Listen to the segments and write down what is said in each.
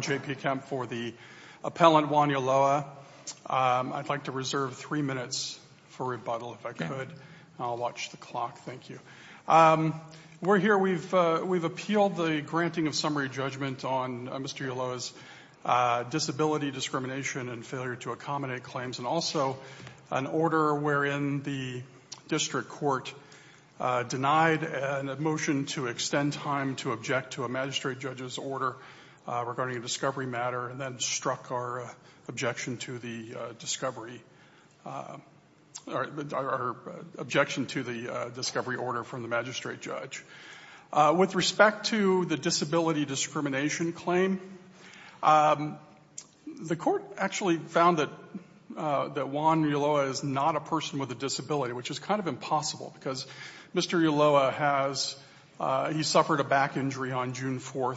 J.P. Kemp, Appellant, 1 Yoloa We have appealed the granting of summary judgment on Mr. Ulloa's disability, discrimination, and failure to accommodate claims, and also an order wherein the district court denied a motion to extend time to object to a magistrate judge's order regarding a discovery matter and then struck our objection to the discovery order from the magistrate judge. With respect to the disability discrimination claim, the court actually found that Juan Ulloa is not a person with a disability, which is kind of impossible, because Mr. Ulloa has, he suffered a back injury on June 4,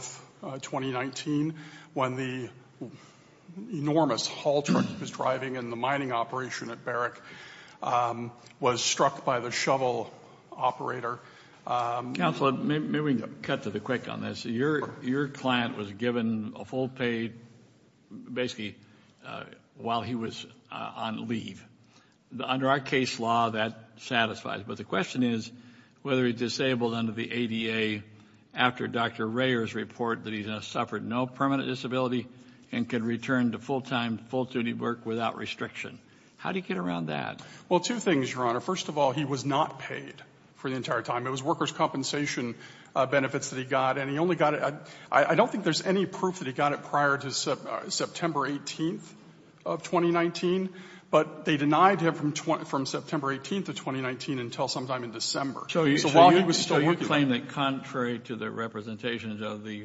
2019, when the enormous haul truck he was cut to the quick on this. Your client was given a full paid, basically, while he was on leave. Under our case law, that satisfies. But the question is whether he's disabled under the ADA after Dr. Rayer's report that he has suffered no permanent disability and can return to full-time, full-duty work without restriction. How do you get around that? Well, two things, Your Honor. First of all, he was not paid for the entire time. It was the workers' compensation benefits that he got. And he only got it at — I don't think there's any proof that he got it prior to September 18th of 2019, but they denied him from September 18th of 2019 until sometime in December. So while he was still working on it — So you claim that, contrary to the representations of the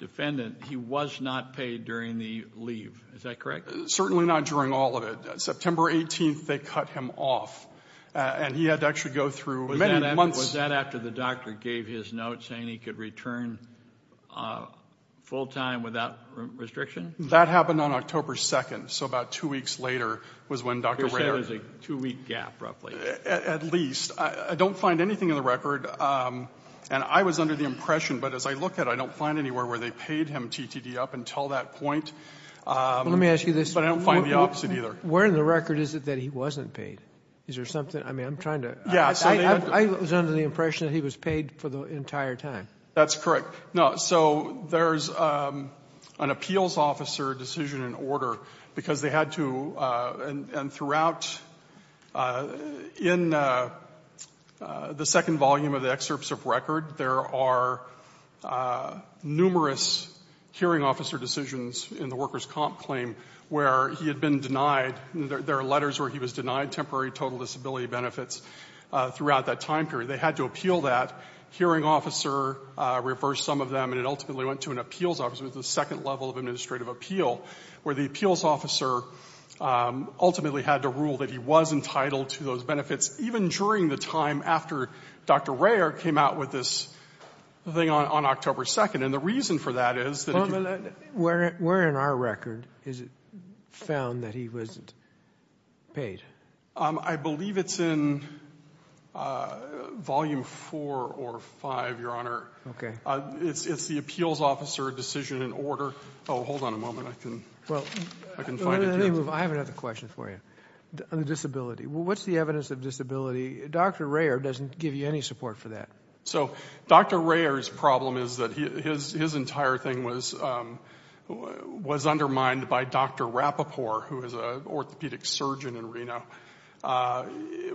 defendant, he was not paid during the leave. Is that correct? Certainly not during all of it. September 18th, they cut him off. And he had to actually go through many months — Was that after the doctor gave his note saying he could return full-time without restriction? That happened on October 2nd. So about two weeks later was when Dr. Rayer — You're saying it was a two-week gap, roughly. At least. I don't find anything in the record. And I was under the impression, but as I look at it, I don't find anywhere where they paid him TTD up until that point. Let me ask you this. But I don't find the opposite, either. Where in the record is it that he wasn't paid? Is there something — I mean, I'm trying to — Yeah. I was under the impression that he was paid for the entire time. That's correct. No. So there's an appeals officer decision in order, because they had to — and throughout — in the second volume of the excerpts of record, there are numerous hearing officer decisions in the worker's comp claim where he had been denied — there are temporary total disability benefits throughout that time period. They had to appeal that. Hearing officer reversed some of them, and it ultimately went to an appeals officer. It was the second level of administrative appeal, where the appeals officer ultimately had to rule that he was entitled to those benefits, even during the time after Dr. Rayer came out with this thing on October 2nd. And the reason for that is that if you — Where in our record is it found that he wasn't paid? I believe it's in volume 4 or 5, Your Honor. OK. It's the appeals officer decision in order. Oh, hold on a moment. I can find it here. I have another question for you on the disability. What's the evidence of disability? Dr. Rayer doesn't give you any support for that. So Dr. Rayer's problem is that his entire thing was undermined by Dr. Rapoport, who is an orthopedic surgeon in Reno,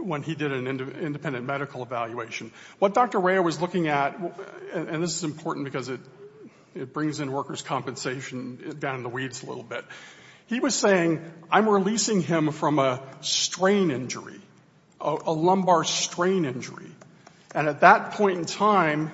when he did an independent medical evaluation. What Dr. Rayer was looking at — and this is important because it brings in worker's compensation down in the weeds a little bit. He was saying, I'm releasing him from a strain injury, a lumbar strain injury. And at that point in time,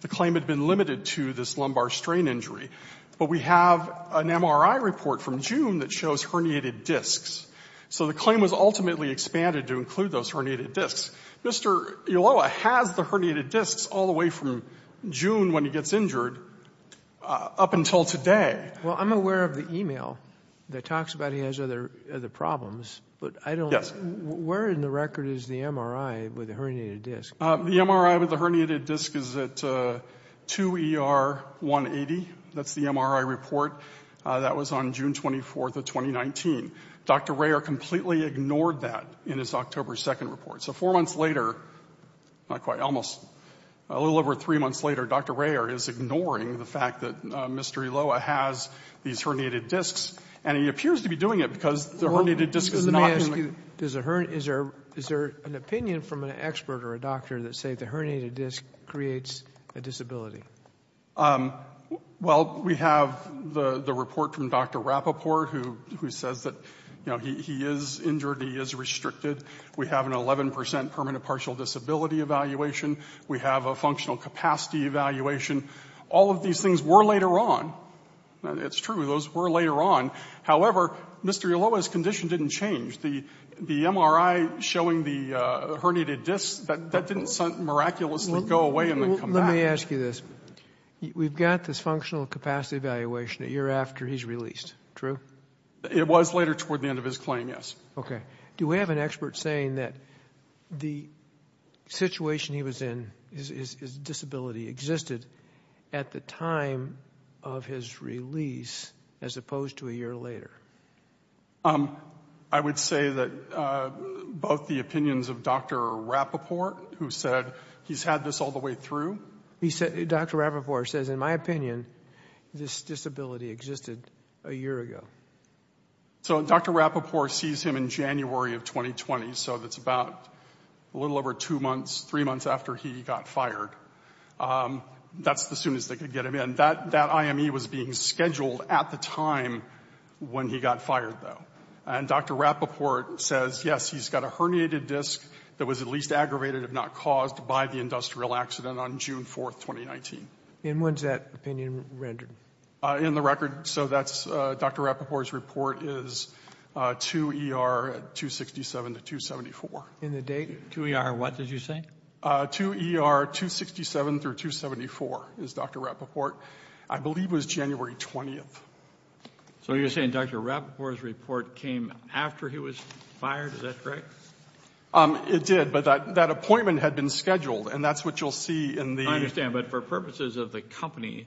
the claim had been limited to this lumbar strain injury. But we have an MRI report from June that shows herniated discs. So the claim was ultimately expanded to include those herniated discs. Mr. Ulloa has the herniated discs all the way from June, when he gets injured, up until today. Well, I'm aware of the email that talks about he has other problems, but I don't — Yes. Where in the record is the MRI with the herniated disc? The MRI with the herniated disc is at 2ER180. That's the MRI report. That was on June 24th of 2019. Dr. Rayer completely ignored that in his October 2nd report. So four months later — not quite, almost a little over three months later — Dr. Rayer is ignoring the fact that Mr. Ulloa has these herniated discs. And he appears to be doing it because the herniated disc is not — Is there an opinion from an expert or a doctor that say the herniated disc creates a disability? Well, we have the report from Dr. Rapoport, who says that, you know, he is injured, he is restricted. We have an 11 percent permanent partial disability evaluation. We have a functional capacity evaluation. All of these things were later on. It's true. Those were later on. However, Mr. Ulloa's condition didn't change. The MRI showing the herniated disc, that didn't miraculously go away and then come back. Let me ask you this. We've got this functional capacity evaluation a year after he's released, true? It was later toward the end of his claim, yes. Okay. Do we have an expert saying that the situation he was in, his disability, existed at the time of his release as opposed to a year later? I would say that both the opinions of Dr. Rapoport, who said he's had this all the way through — He said — Dr. Rapoport says, in my opinion, this disability existed a year ago. So Dr. Rapoport sees him in January of 2020, so that's about a little over two months, three months after he got fired. That's the soonest they could get him in. And that IME was being scheduled at the time when he got fired, though. And Dr. Rapoport says, yes, he's got a herniated disc that was at least aggravated, if not caused, by the industrial accident on June 4th, 2019. And when's that opinion rendered? In the record. So that's — Dr. Rapoport's report is 2 ER 267 to 274. In the date, 2 ER what did you say? 2 ER 267 through 274 is Dr. Rapoport. I believe it was January 20th. So you're saying Dr. Rapoport's report came after he was fired? Is that correct? It did, but that appointment had been scheduled, and that's what you'll see in the — I understand, but for purposes of the company,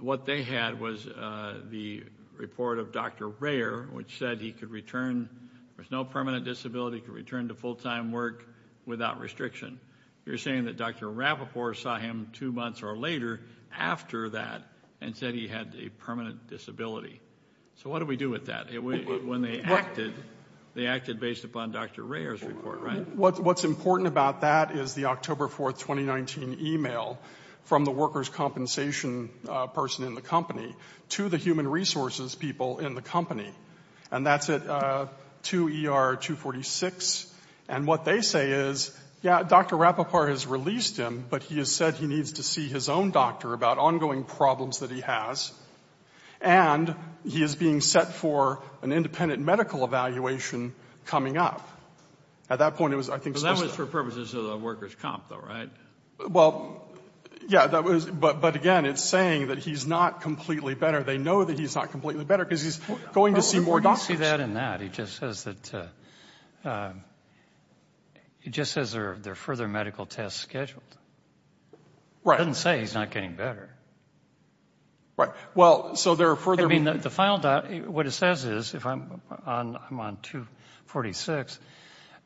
what they had was the report of Dr. Rayer, which said he could return with no permanent disability, he could return to full-time work without restriction. You're saying that Dr. Rapoport saw him two months or later after that and said he had a permanent disability. So what do we do with that? When they acted, they acted based upon Dr. Rayer's report, right? What's important about that is the October 4th, 2019 email from the workers' compensation person in the company to the human resources people in the company. And that's at 2 ER 246. And what they say is, yeah, Dr. Rapoport has released him, but he has said he needs to see his own doctor about ongoing problems that he has, and he is being set for an independent medical evaluation coming up. At that point, it was, I think, specific. But that was for purposes of the workers' comp, though, right? Well, yeah, that was — but again, it's saying that he's not completely better. They know that he's not completely better because he's going to see more doctors. But you see that in that. He just says that — he just says there are further medical tests scheduled. Right. It doesn't say he's not getting better. Right. Well, so there are further — I mean, the final — what it says is, if I'm on 246,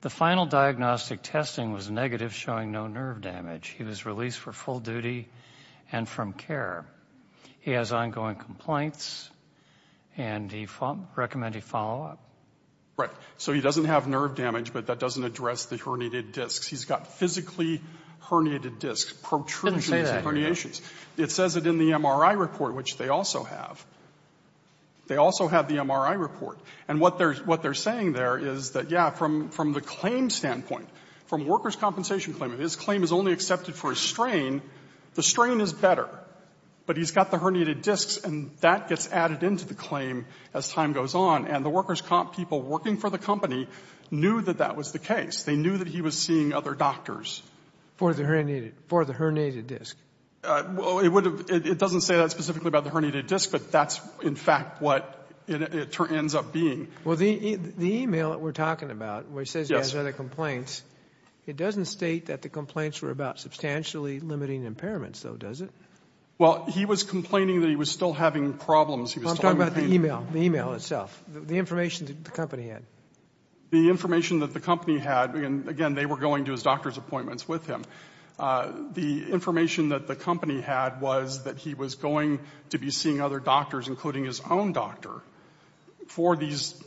the final diagnostic testing was negative, showing no nerve damage. He was released for full duty and from care. He has ongoing complaints, and he recommended follow-up. So he doesn't have nerve damage, but that doesn't address the herniated discs. He's got physically herniated discs, protrusions and herniations. It says it in the MRI report, which they also have. They also have the MRI report. And what they're — what they're saying there is that, yeah, from the claim standpoint, from workers' compensation claim, if his claim is only accepted for a strain, the strain is better, but he's got the herniated discs, and that gets added into the claim as time goes on. And the workers' comp people working for the company knew that that was the case. They knew that he was seeing other doctors. For the herniated — for the herniated disc. Well, it would have — it doesn't say that specifically about the herniated disc, but that's, in fact, what it ends up being. Well, the email that we're talking about, where it says he has other complaints, it doesn't state that the complaints were about substantially limiting impairments, though, does it? Well, he was complaining that he was still having problems. He was still having pain. I'm talking about the email. The email itself. The information that the company had. The information that the company had — and, again, they were going to his doctor's appointments with him. The information that the company had was that he was going to be seeing other doctors, including his own doctor, for these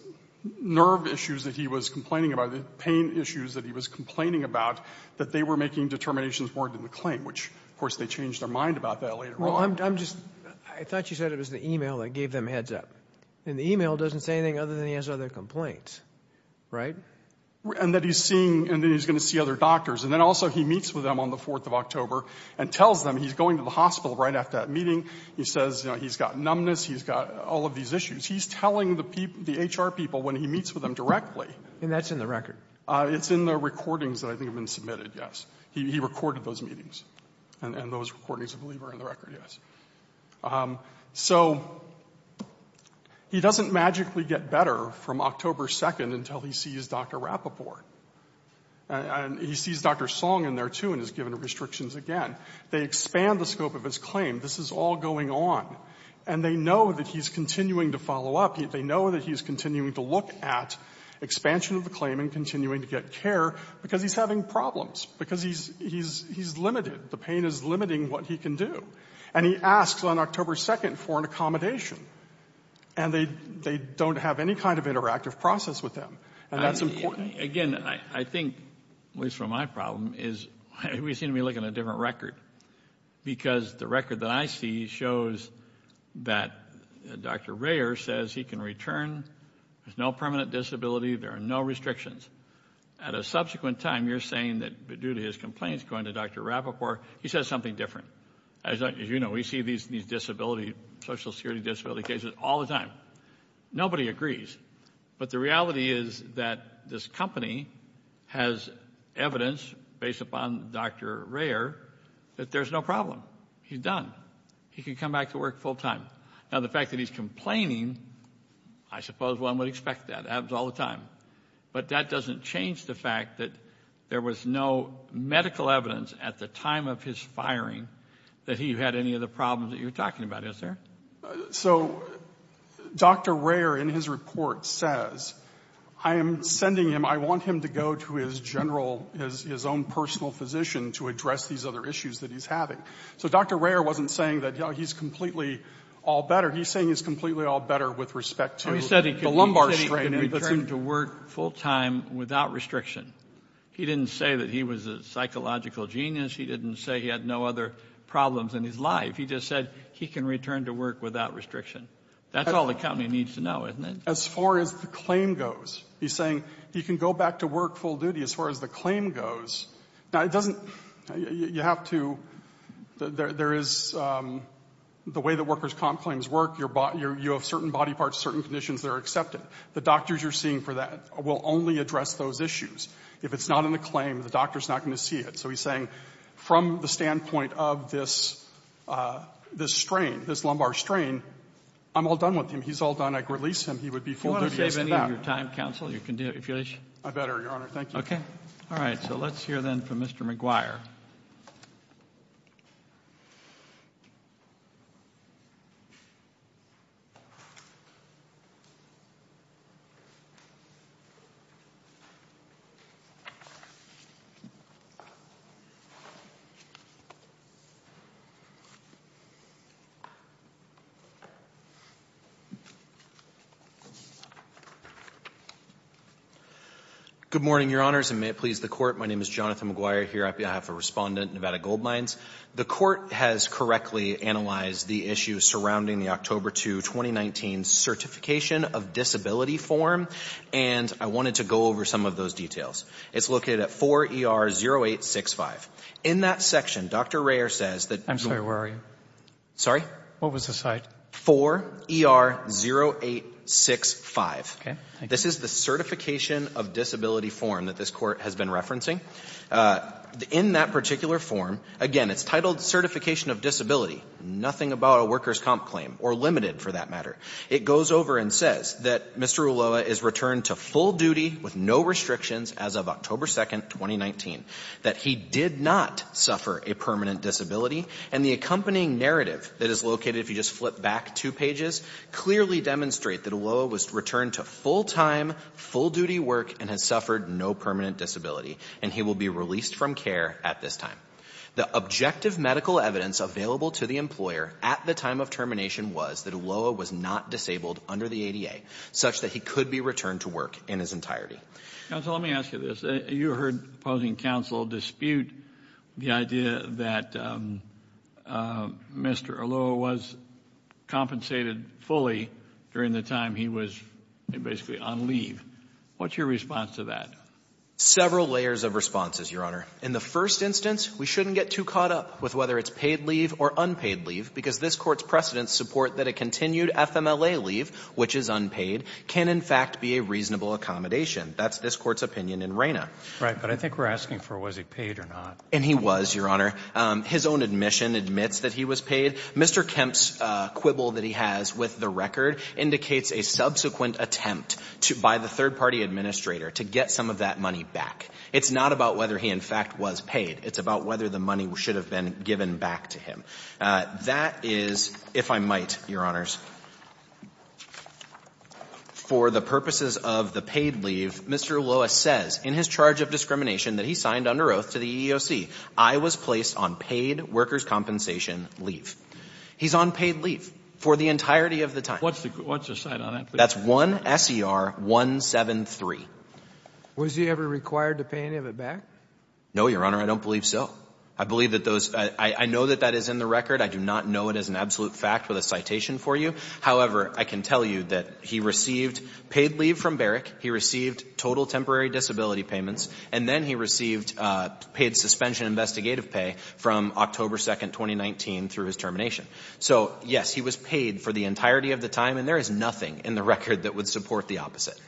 nerve issues that he was complaining about, or the pain issues that he was complaining about, that they were making determinations more than the claim, which, of course, they changed their mind about that later on. Well, I'm just — I thought you said it was the email that gave them heads up. And the email doesn't say anything other than he has other complaints, right? And that he's seeing — and then he's going to see other doctors. And then, also, he meets with them on the 4th of October and tells them — he's going to the hospital right after that meeting. He says, you know, he's got numbness. He's got all of these issues. He's telling the HR people when he meets with them directly. And that's in the record? It's in the recordings that I think have been submitted, yes. He recorded those meetings. And those recordings, I believe, are in the record, yes. So he doesn't magically get better from October 2nd until he sees Dr. Rapoport. And he sees Dr. Song in there, too, and is given restrictions again. They expand the scope of his claim. This is all going on. And they know that he's continuing to follow up. They know that he's continuing to look at expansion of the claim and continuing to get care because he's having problems, because he's — he's — he's limited. The pain is limiting what he can do. And he asks on October 2nd for an accommodation. And they — they don't have any kind of interactive process with him. And that's important. Again, I think, at least from my problem, is we seem to be looking at a different record, because the record that I see shows that Dr. Rayer says he can return. There's no permanent disability. There are no restrictions. At a subsequent time, you're saying that due to his complaints going to Dr. Rapoport, he says something different. As you know, we see these disability — social security disability cases all the time. Nobody agrees. But the reality is that this company has evidence, based upon Dr. Rayer, that there's no problem. He's done. He can come back to work full-time. Now, the fact that he's complaining, I suppose one would expect that. It happens all the time. But that doesn't change the fact that there was no medical evidence at the time of his firing that he had any of the problems that you're talking about, is there? So, Dr. Rayer, in his report, says, I am sending him — I want him to go to his general — his own personal physician to address these other issues that he's having. So Dr. Rayer wasn't saying that he's completely all better. He's saying he's completely all better with respect to the lumbar strain. He said he can return to work full-time without restriction. He didn't say that he was a psychological genius. He didn't say he had no other problems in his life. He just said he can return to work without restriction. That's all the company needs to know, isn't it? As far as the claim goes, he's saying he can go back to work full-duty as far as the claim goes. Now, it doesn't — you have to — there is — the way that workers' comp claims work, you have certain body parts, certain conditions that are accepted. The doctors you're seeing for that will only address those issues. If it's not in the claim, the doctor's not going to see it. So he's saying from the standpoint of this strain, this lumbar strain, I'm all done with him. He's all done. I could release him. He would be full-duty as to that. Do you want to save any of your time, counsel, your continuation? I better, Your Honor. Thank you. OK. All right. So let's hear, then, from Mr. McGuire. Good morning, Your Honors, and may it please the Court. My name is Jonathan McGuire, here on behalf of Respondent Nevada Goldmines. The Court has correctly analyzed the issues surrounding the October 2, 2019 Certification of Disability form, and I wanted to go over some of those details. It's located at 4 ER 0865. In that section, Dr. Rayer says that the ---- I'm sorry. Where are you? Sorry? What was the site? 4 ER 0865. OK. Thank you. This is the Certification of Disability form that this Court has been referencing. In that particular form, again, it's titled Certification of Disability. Nothing about a worker's comp claim, or limited, for that matter. It goes over and says that Mr. Ulloa is returned to full duty with no restrictions as of October 2, 2019, that he did not suffer a permanent disability, and the accompanying narrative that is located, if you just flip back two pages, clearly demonstrate that Ulloa was returned to full-time, full-duty work, and has suffered no permanent disability, and he will be released from care at this time. The objective medical evidence available to the employer at the time of termination was that Ulloa was not disabled under the ADA, such that he could be returned to work in his entirety. Counsel, let me ask you this. You heard opposing counsel dispute the idea that Mr. Ulloa was compensated fully during the time he was basically on leave. What's your response to that? Several layers of responses, Your Honor. In the first instance, we shouldn't get too caught up with whether it's paid leave or unpaid leave, because this Court's precedents support that a continued FMLA leave, which is unpaid, can in fact be a reasonable accommodation. That's this Court's opinion in RANA. But I think we're asking for was he paid or not. And he was, Your Honor. His own admission admits that he was paid. Mr. Kemp's quibble that he has with the record indicates a subsequent attempt by the third-party administrator to get some of that money back. It's not about whether he in fact was paid. It's about whether the money should have been given back to him. That is, if I might, Your Honors, for the purposes of the paid leave, Mr. Ulloa says in his charge of discrimination that he signed under oath to the EEOC, I was placed on paid workers' compensation leave. He's on paid leave for the entirety of the time. What's the cite on that? That's 1 S.E.R. 173. Was he ever required to pay any of it back? No, Your Honor. I don't believe so. I believe that those — I know that that is in the record. I do not know it as an absolute fact with a citation for you. However, I can tell you that he received paid leave from Barrick. He received total temporary disability payments. And then he received paid suspension investigative pay from October 2, 2019, through his termination. So, yes, he was paid for the entirety of the time. And there is nothing in the record that would support the opposite.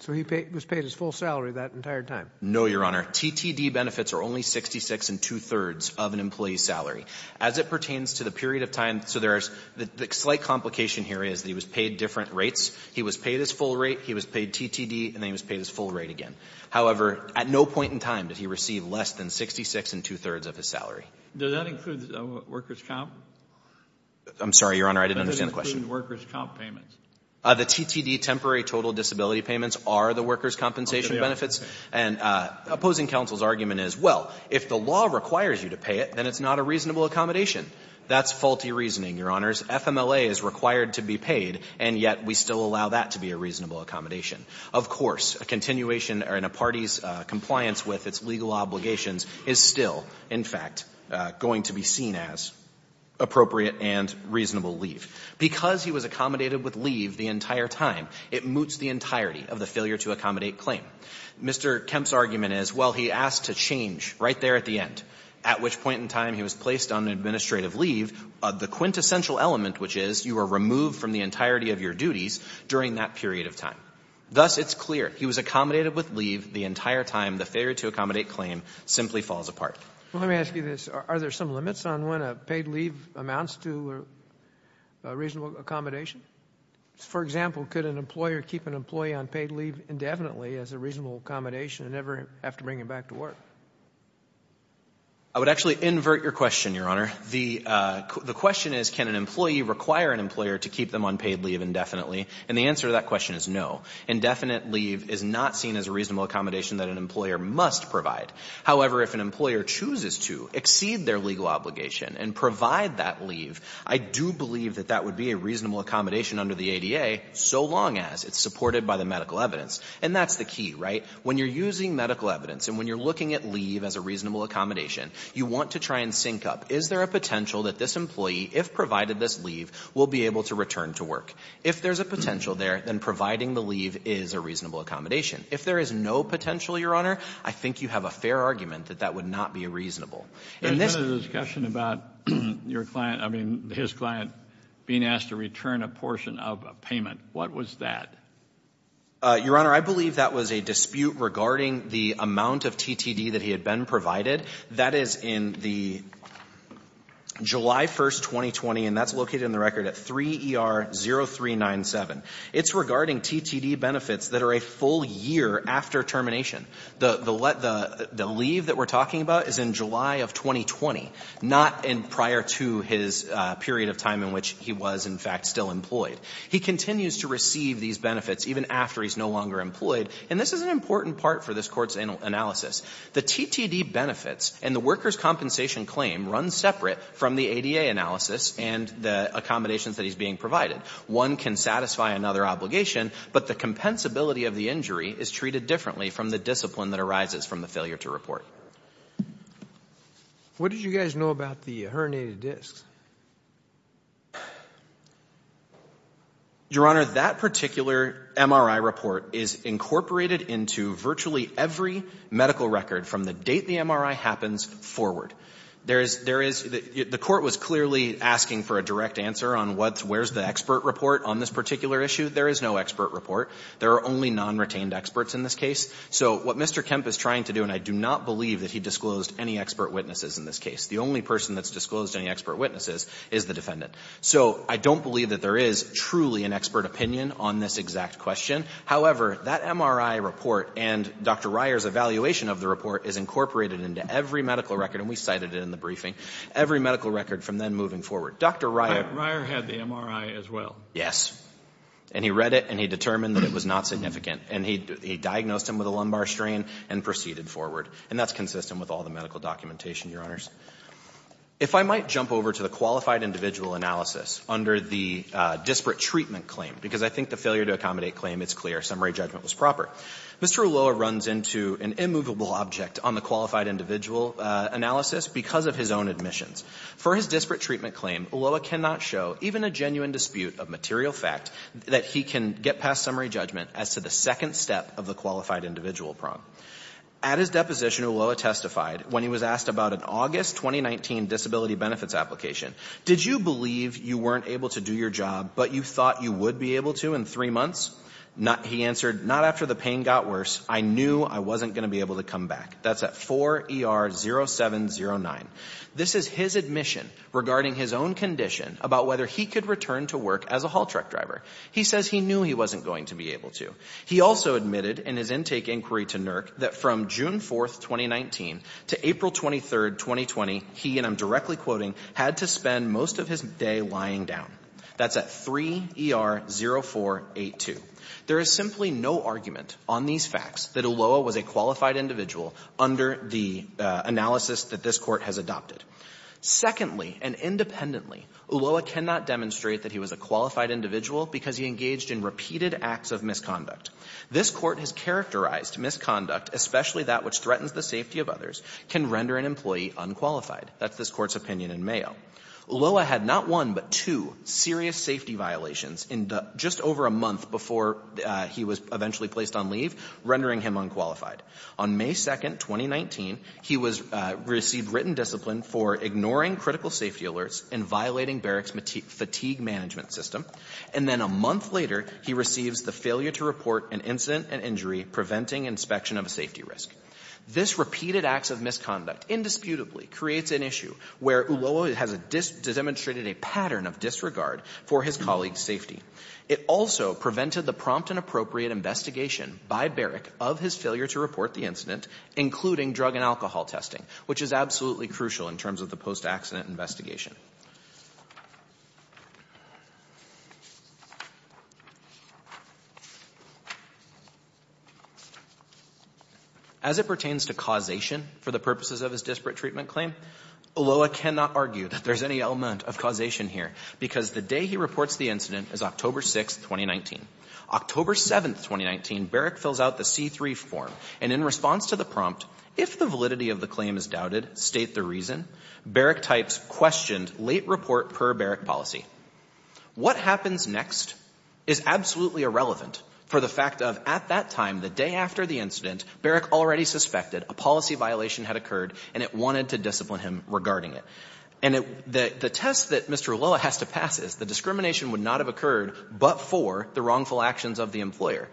So he was paid his full salary that entire time? No, Your Honor. TTD benefits are only 66 and two-thirds of an employee's salary. As it pertains to the period of time — so there is — the slight complication here is that he was paid different rates. He was paid his full rate, he was paid TTD, and then he was paid his full rate again. However, at no point in time did he receive less than 66 and two-thirds of his salary. Does that include workers' comp? I'm sorry, Your Honor. I didn't understand the question. Does that include workers' comp payments? The TTD temporary total disability payments are the workers' compensation benefits. And opposing counsel's argument is, well, if the law requires you to pay it, then it's not a reasonable accommodation. That's faulty reasoning, Your Honors. FMLA is required to be paid, and yet we still allow that to be a reasonable accommodation. Of course, a continuation in a party's compliance with its legal obligations is still, in fact, going to be seen as appropriate and reasonable leave. Because he was accommodated with leave the entire time, it moots the entirety of the failure-to-accommodate claim. Mr. Kemp's argument is, well, he asked to change right there at the end, at which point in time he was placed on administrative leave, the quintessential element, which is you are removed from the entirety of your duties during that period of time. Thus, it's clear he was accommodated with leave the entire time the failure-to-accommodate claim simply falls apart. Let me ask you this. Are there some limits on when a paid leave amounts to a reasonable accommodation? For example, could an employer keep an employee on paid leave indefinitely as a reasonable accommodation and never have to bring him back to work? I would actually invert your question, Your Honor. The question is, can an employee require an employer to keep them on paid leave indefinitely? And the answer to that question is no. Indefinite leave is not seen as a reasonable accommodation that an employer must provide. However, if an employer chooses to exceed their legal obligation and provide that leave, I do believe that that would be a reasonable accommodation under the ADA so long as it's supported by the medical evidence. And that's the key, right? When you're using medical evidence and when you're looking at leave as a reasonable accommodation, you want to try and sync up. Is there a potential that this employee, if provided this leave, will be able to return to work? If there's a potential there, then providing the leave is a reasonable accommodation. If there is no potential, Your Honor, I think you have a fair argument that that would not be reasonable. And this ---- There's been a discussion about your client, I mean, his client, being asked to return a portion of a payment. What was that? Your Honor, I believe that was a dispute regarding the amount of TTD that he had been provided. That is in the July 1st, 2020, and that's located in the record at 3ER0397. It's regarding TTD benefits that are a full year after termination. The leave that we're talking about is in July of 2020, not prior to his period of time in which he was, in fact, still employed. He continues to receive these benefits even after he's no longer employed. And this is an important part for this Court's analysis. The TTD benefits and the workers' compensation claim run separate from the ADA analysis and the accommodations that he's being provided. One can satisfy another obligation, but the compensability of the injury is treated differently from the discipline that arises from the failure to report. What did you guys know about the herniated discs? Your Honor, that particular MRI report is incorporated into virtually every medical record from the date the MRI happens forward. There is there is the court was clearly asking for a direct answer on what's where's the expert report on this particular issue. There is no expert report. There are only non-retained experts in this case. So what Mr. Kemp is trying to do, and I do not believe that he disclosed any expert witnesses in this case. The only person that's disclosed any expert witnesses is the defendant. So I don't believe that there is truly an expert opinion on this exact question. However, that MRI report and Dr. Ryer's evaluation of the report is incorporated into every medical record, and we cited it in the briefing, every medical record from then moving forward. Dr. Ryer Ryer had the MRI as well. Yes. And he read it and he determined that it was not significant. And he diagnosed him with a lumbar strain and proceeded forward. And that's consistent with all the medical documentation, Your Honors. If I might jump over to the qualified individual analysis under the disparate treatment claim, because I think the failure to accommodate claim, it's clear, summary judgment was proper. Mr. Ulloa runs into an immovable object on the qualified individual analysis because of his own admissions. For his disparate treatment claim, Ulloa cannot show even a genuine dispute of material fact that he can get past summary judgment as to the second step of the qualified individual problem. At his deposition, Ulloa testified when he was asked about an August 2019 disability benefits application, did you believe you weren't able to do your job, but you thought you would be able to in three months? He answered, not after the pain got worse. I knew I wasn't going to be able to come back. That's at 4 ER 0709. This is his admission regarding his own condition about whether he could return to work as a haul truck driver. He says he knew he wasn't going to be able to. He also admitted in his intake inquiry to NERC that from June 4th, 2019 to April 23rd, 2020, he, and I'm directly quoting, had to spend most of his day lying down. That's at 3 ER 0482. There is simply no argument on these facts that Ulloa was a qualified individual under the analysis that this Court has adopted. Secondly, and independently, Ulloa cannot demonstrate that he was a qualified individual because he engaged in repeated acts of misconduct. This Court has characterized misconduct, especially that which threatens the safety of others, can render an employee unqualified. That's this Court's opinion in Mayo. Ulloa had not one but two serious safety violations in the just over a month before he was eventually placed on leave, rendering him unqualified. On May 2nd, 2019, he was – received written discipline for ignoring critical safety alerts and violating Barrick's fatigue management system. And then a month later, he receives the failure to report an incident and injury preventing inspection of a safety risk. This repeated acts of misconduct indisputably creates an issue where Ulloa has a – demonstrated a pattern of disregard for his colleague's safety. It also prevented the prompt and appropriate investigation by Barrick of his failure to report the incident, including drug and alcohol testing, which is absolutely crucial in terms of the post-accident investigation. As it pertains to causation for the purposes of his disparate treatment claim, Ulloa cannot argue that there's any element of causation here because the day he reports the incident is October 6th, 2019. October 7th, 2019, Barrick fills out the C-3 form. And in response to the prompt, if the validity of the claim is doubted, state the reason. Barrick types questioned late report per Barrick policy. What happens next is absolutely irrelevant for the fact of at that time, the day after the incident, Barrick already suspected a policy violation had occurred and it wanted to discipline him regarding it. And the test that Mr. Ulloa has to pass is the discrimination would not have occurred but for the wrongful actions of the employer.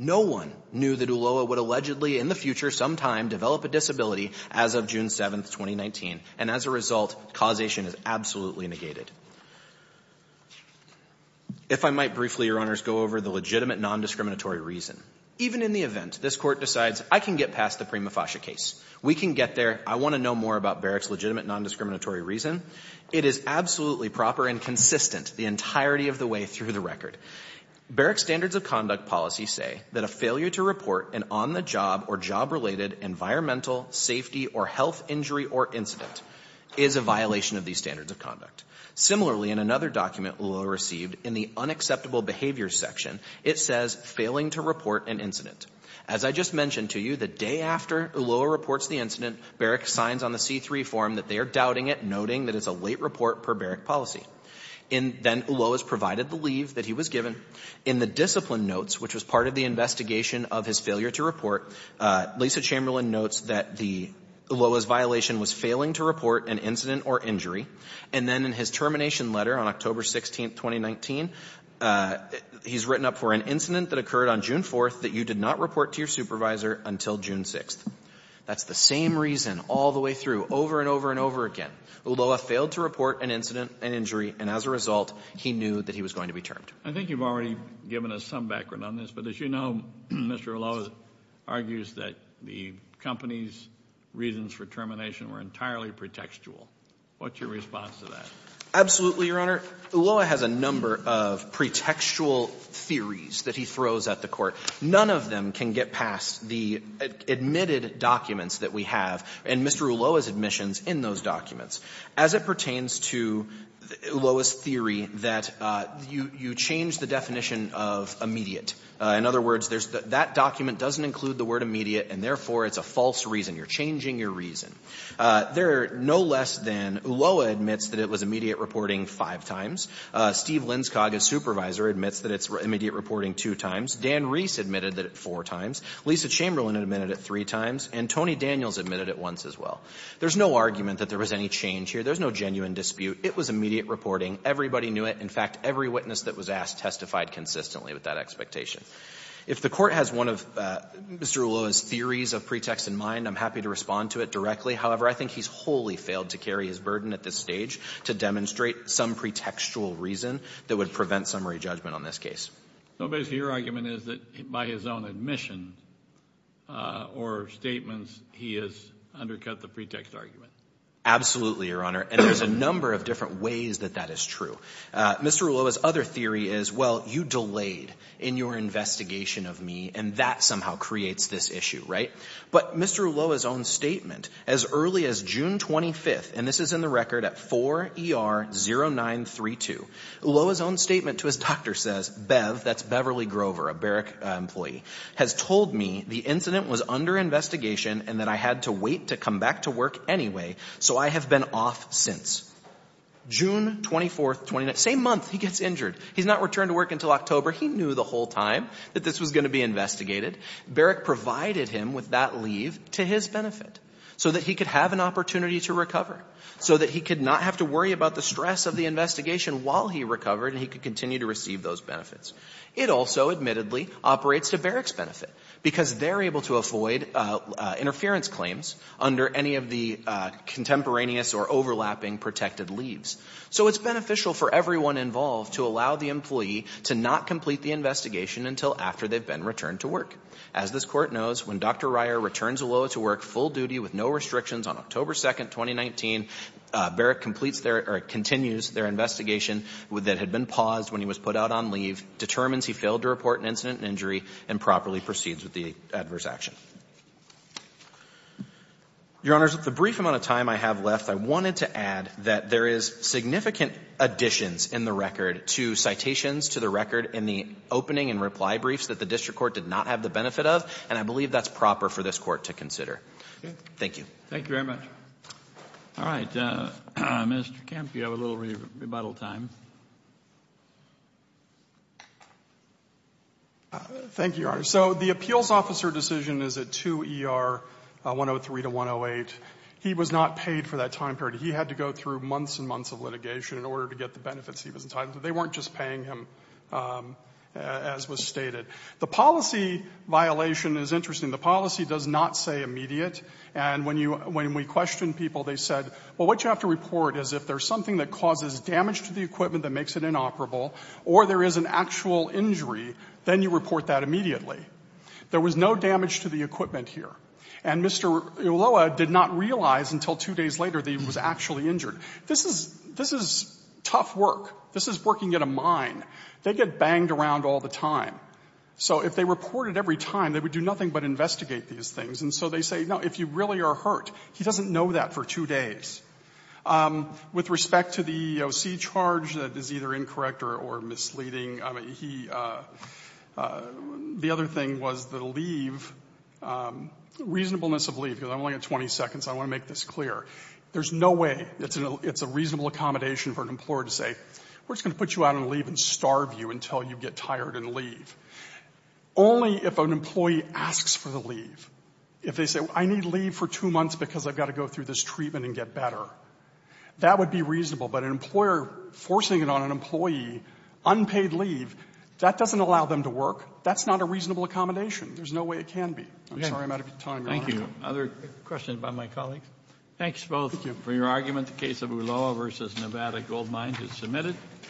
No one knew that Ulloa would allegedly in the future sometime develop a disability as of June 7th, 2019. And as a result, causation is absolutely negated. If I might briefly, Your Honors, go over the legitimate nondiscriminatory reason. Even in the event this Court decides I can get past the Prima Fascia case, we can get there. I want to know more about Barrick's legitimate nondiscriminatory reason. It is absolutely proper and consistent the entirety of the way through the record. Barrick's standards of conduct policy say that a failure to report an on-the-job or job-related environmental, safety, or health injury or incident is a violation of these standards of conduct. Similarly, in another document Ulloa received in the unacceptable behavior section, it says failing to report an incident. As I just mentioned to you, the day after Ulloa reports the incident, Barrick signs on the C-3 form that they are doubting it, noting that it's a late report per Barrick policy. And then Ulloa is provided the leave that he was given. In the discipline notes, which was part of the investigation of his failure to report, Lisa Chamberlain notes that the Ulloa's violation was failing to report an incident or injury. And then in his termination letter on October 16th, 2019, he's written up for an incident that occurred on June 4th that you did not report to your supervisor until June 6th. That's the same reason all the way through, over and over and over again. Ulloa failed to report an incident, an injury, and as a result, he knew that he was going to be termed. Kennedy. I think you've already given us some background on this, but as you know, Mr. Ulloa argues that the company's reasons for termination were entirely pretextual. What's your response to that? Absolutely, Your Honor. Ulloa has a number of pretextual theories that he throws at the Court. None of them can get past the admitted documents that we have and Mr. Ulloa's admissions in those documents. As it pertains to Ulloa's theory that you change the definition of immediate. In other words, that document doesn't include the word immediate, and therefore it's a false reason. You're changing your reason. There are no less than Ulloa admits that it was immediate reporting five times. Steve Linskog, his supervisor, admits that it's immediate reporting two times. Dan Reese admitted that it four times. Lisa Chamberlain admitted it three times. And Tony Daniels admitted it once as well. There's no argument that there was any change here. There's no genuine dispute. It was immediate reporting. Everybody knew it. In fact, every witness that was asked testified consistently with that expectation. If the Court has one of Mr. Ulloa's theories of pretext in mind, I'm happy to respond to it directly. However, I think he's wholly failed to carry his burden at this stage to demonstrate some pretextual reason that would prevent summary judgment on this case. So basically, your argument is that by his own admission or statements, he has undercut the pretext argument. Absolutely, Your Honor. And there's a number of different ways that that is true. Mr. Ulloa's other theory is, well, you delayed in your investigation of me, and that somehow creates this issue, right? But Mr. Ulloa's own statement, as early as June 25th, and this is in the record at 4 ER 0932, Ulloa's own statement to his doctor says, Bev, that's Beverly Grover, a Barrick employee, has told me the incident was under investigation and that I had to wait to come back to work anyway, so I have been off since. June 24th, 29th, same month, he gets injured. He's not returned to work until October. He knew the whole time that this was going to be investigated. Barrick provided him with that leave to his benefit, so that he could have an opportunity to recover, so that he could not have to worry about the stress of the investigation while he recovered and he could continue to receive those benefits. It also, admittedly, operates to Barrick's benefit, because they're able to avoid interference claims under any of the contemporaneous or overlapping protected leaves. So it's beneficial for everyone involved to allow the employee to not complete the investigation until after they've been returned to work. As this Court knows, when Dr. Ryer returns Ulloa to work full duty with no restrictions on October 2nd, 2019, Barrick completes their or continues their investigation that had been paused when he was put out on leave, determines he failed to report an incident and injury, and properly proceeds with the adverse action. Your Honors, with the brief amount of time I have left, I wanted to add that there is significant additions in the record to citations to the record in the opening and reply briefs that the District Court did not have the benefit of, and I believe that's proper for this Court to consider. Thank you. Thank you very much. All right. Mr. Kemp, you have a little rebuttal time. Thank you, Your Honors. So the appeals officer decision is at 2 ER 103 to 108. He was not paid for that time period. He had to go through months and months of litigation in order to get the benefits he was entitled to. They weren't just paying him, as was stated. The policy violation is interesting. The policy does not say immediate, and when we questioned people, they said, well, what you have to report is if there's something that causes damage to the equipment that makes it inoperable, or there is an actual injury, then you report that immediately. There was no damage to the equipment here. And Mr. Ulloa did not realize until two days later that he was actually injured. This is tough work. This is working at a mine. They get banged around all the time. So if they reported every time, they would do nothing but investigate these things. And so they say, no, if you really are hurt. He doesn't know that for two days. With respect to the EEOC charge, that is either incorrect or misleading. I mean, he the other thing was the leave, reasonableness of leave. I only have 20 seconds. I want to make this clear. There's no way it's a reasonable accommodation for an employer to say, you know, we're just going to put you out on leave and starve you until you get tired and leave. Only if an employee asks for the leave, if they say, I need leave for two months because I've got to go through this treatment and get better, that would be reasonable. But an employer forcing it on an employee, unpaid leave, that doesn't allow them to work. That's not a reasonable accommodation. There's no way it can be. I'm sorry I'm out of time, Your Honor. Thank you. Other questions by my colleagues? Thank you both for your argument. The case of Ulloa v. Nevada Goldmines is submitted.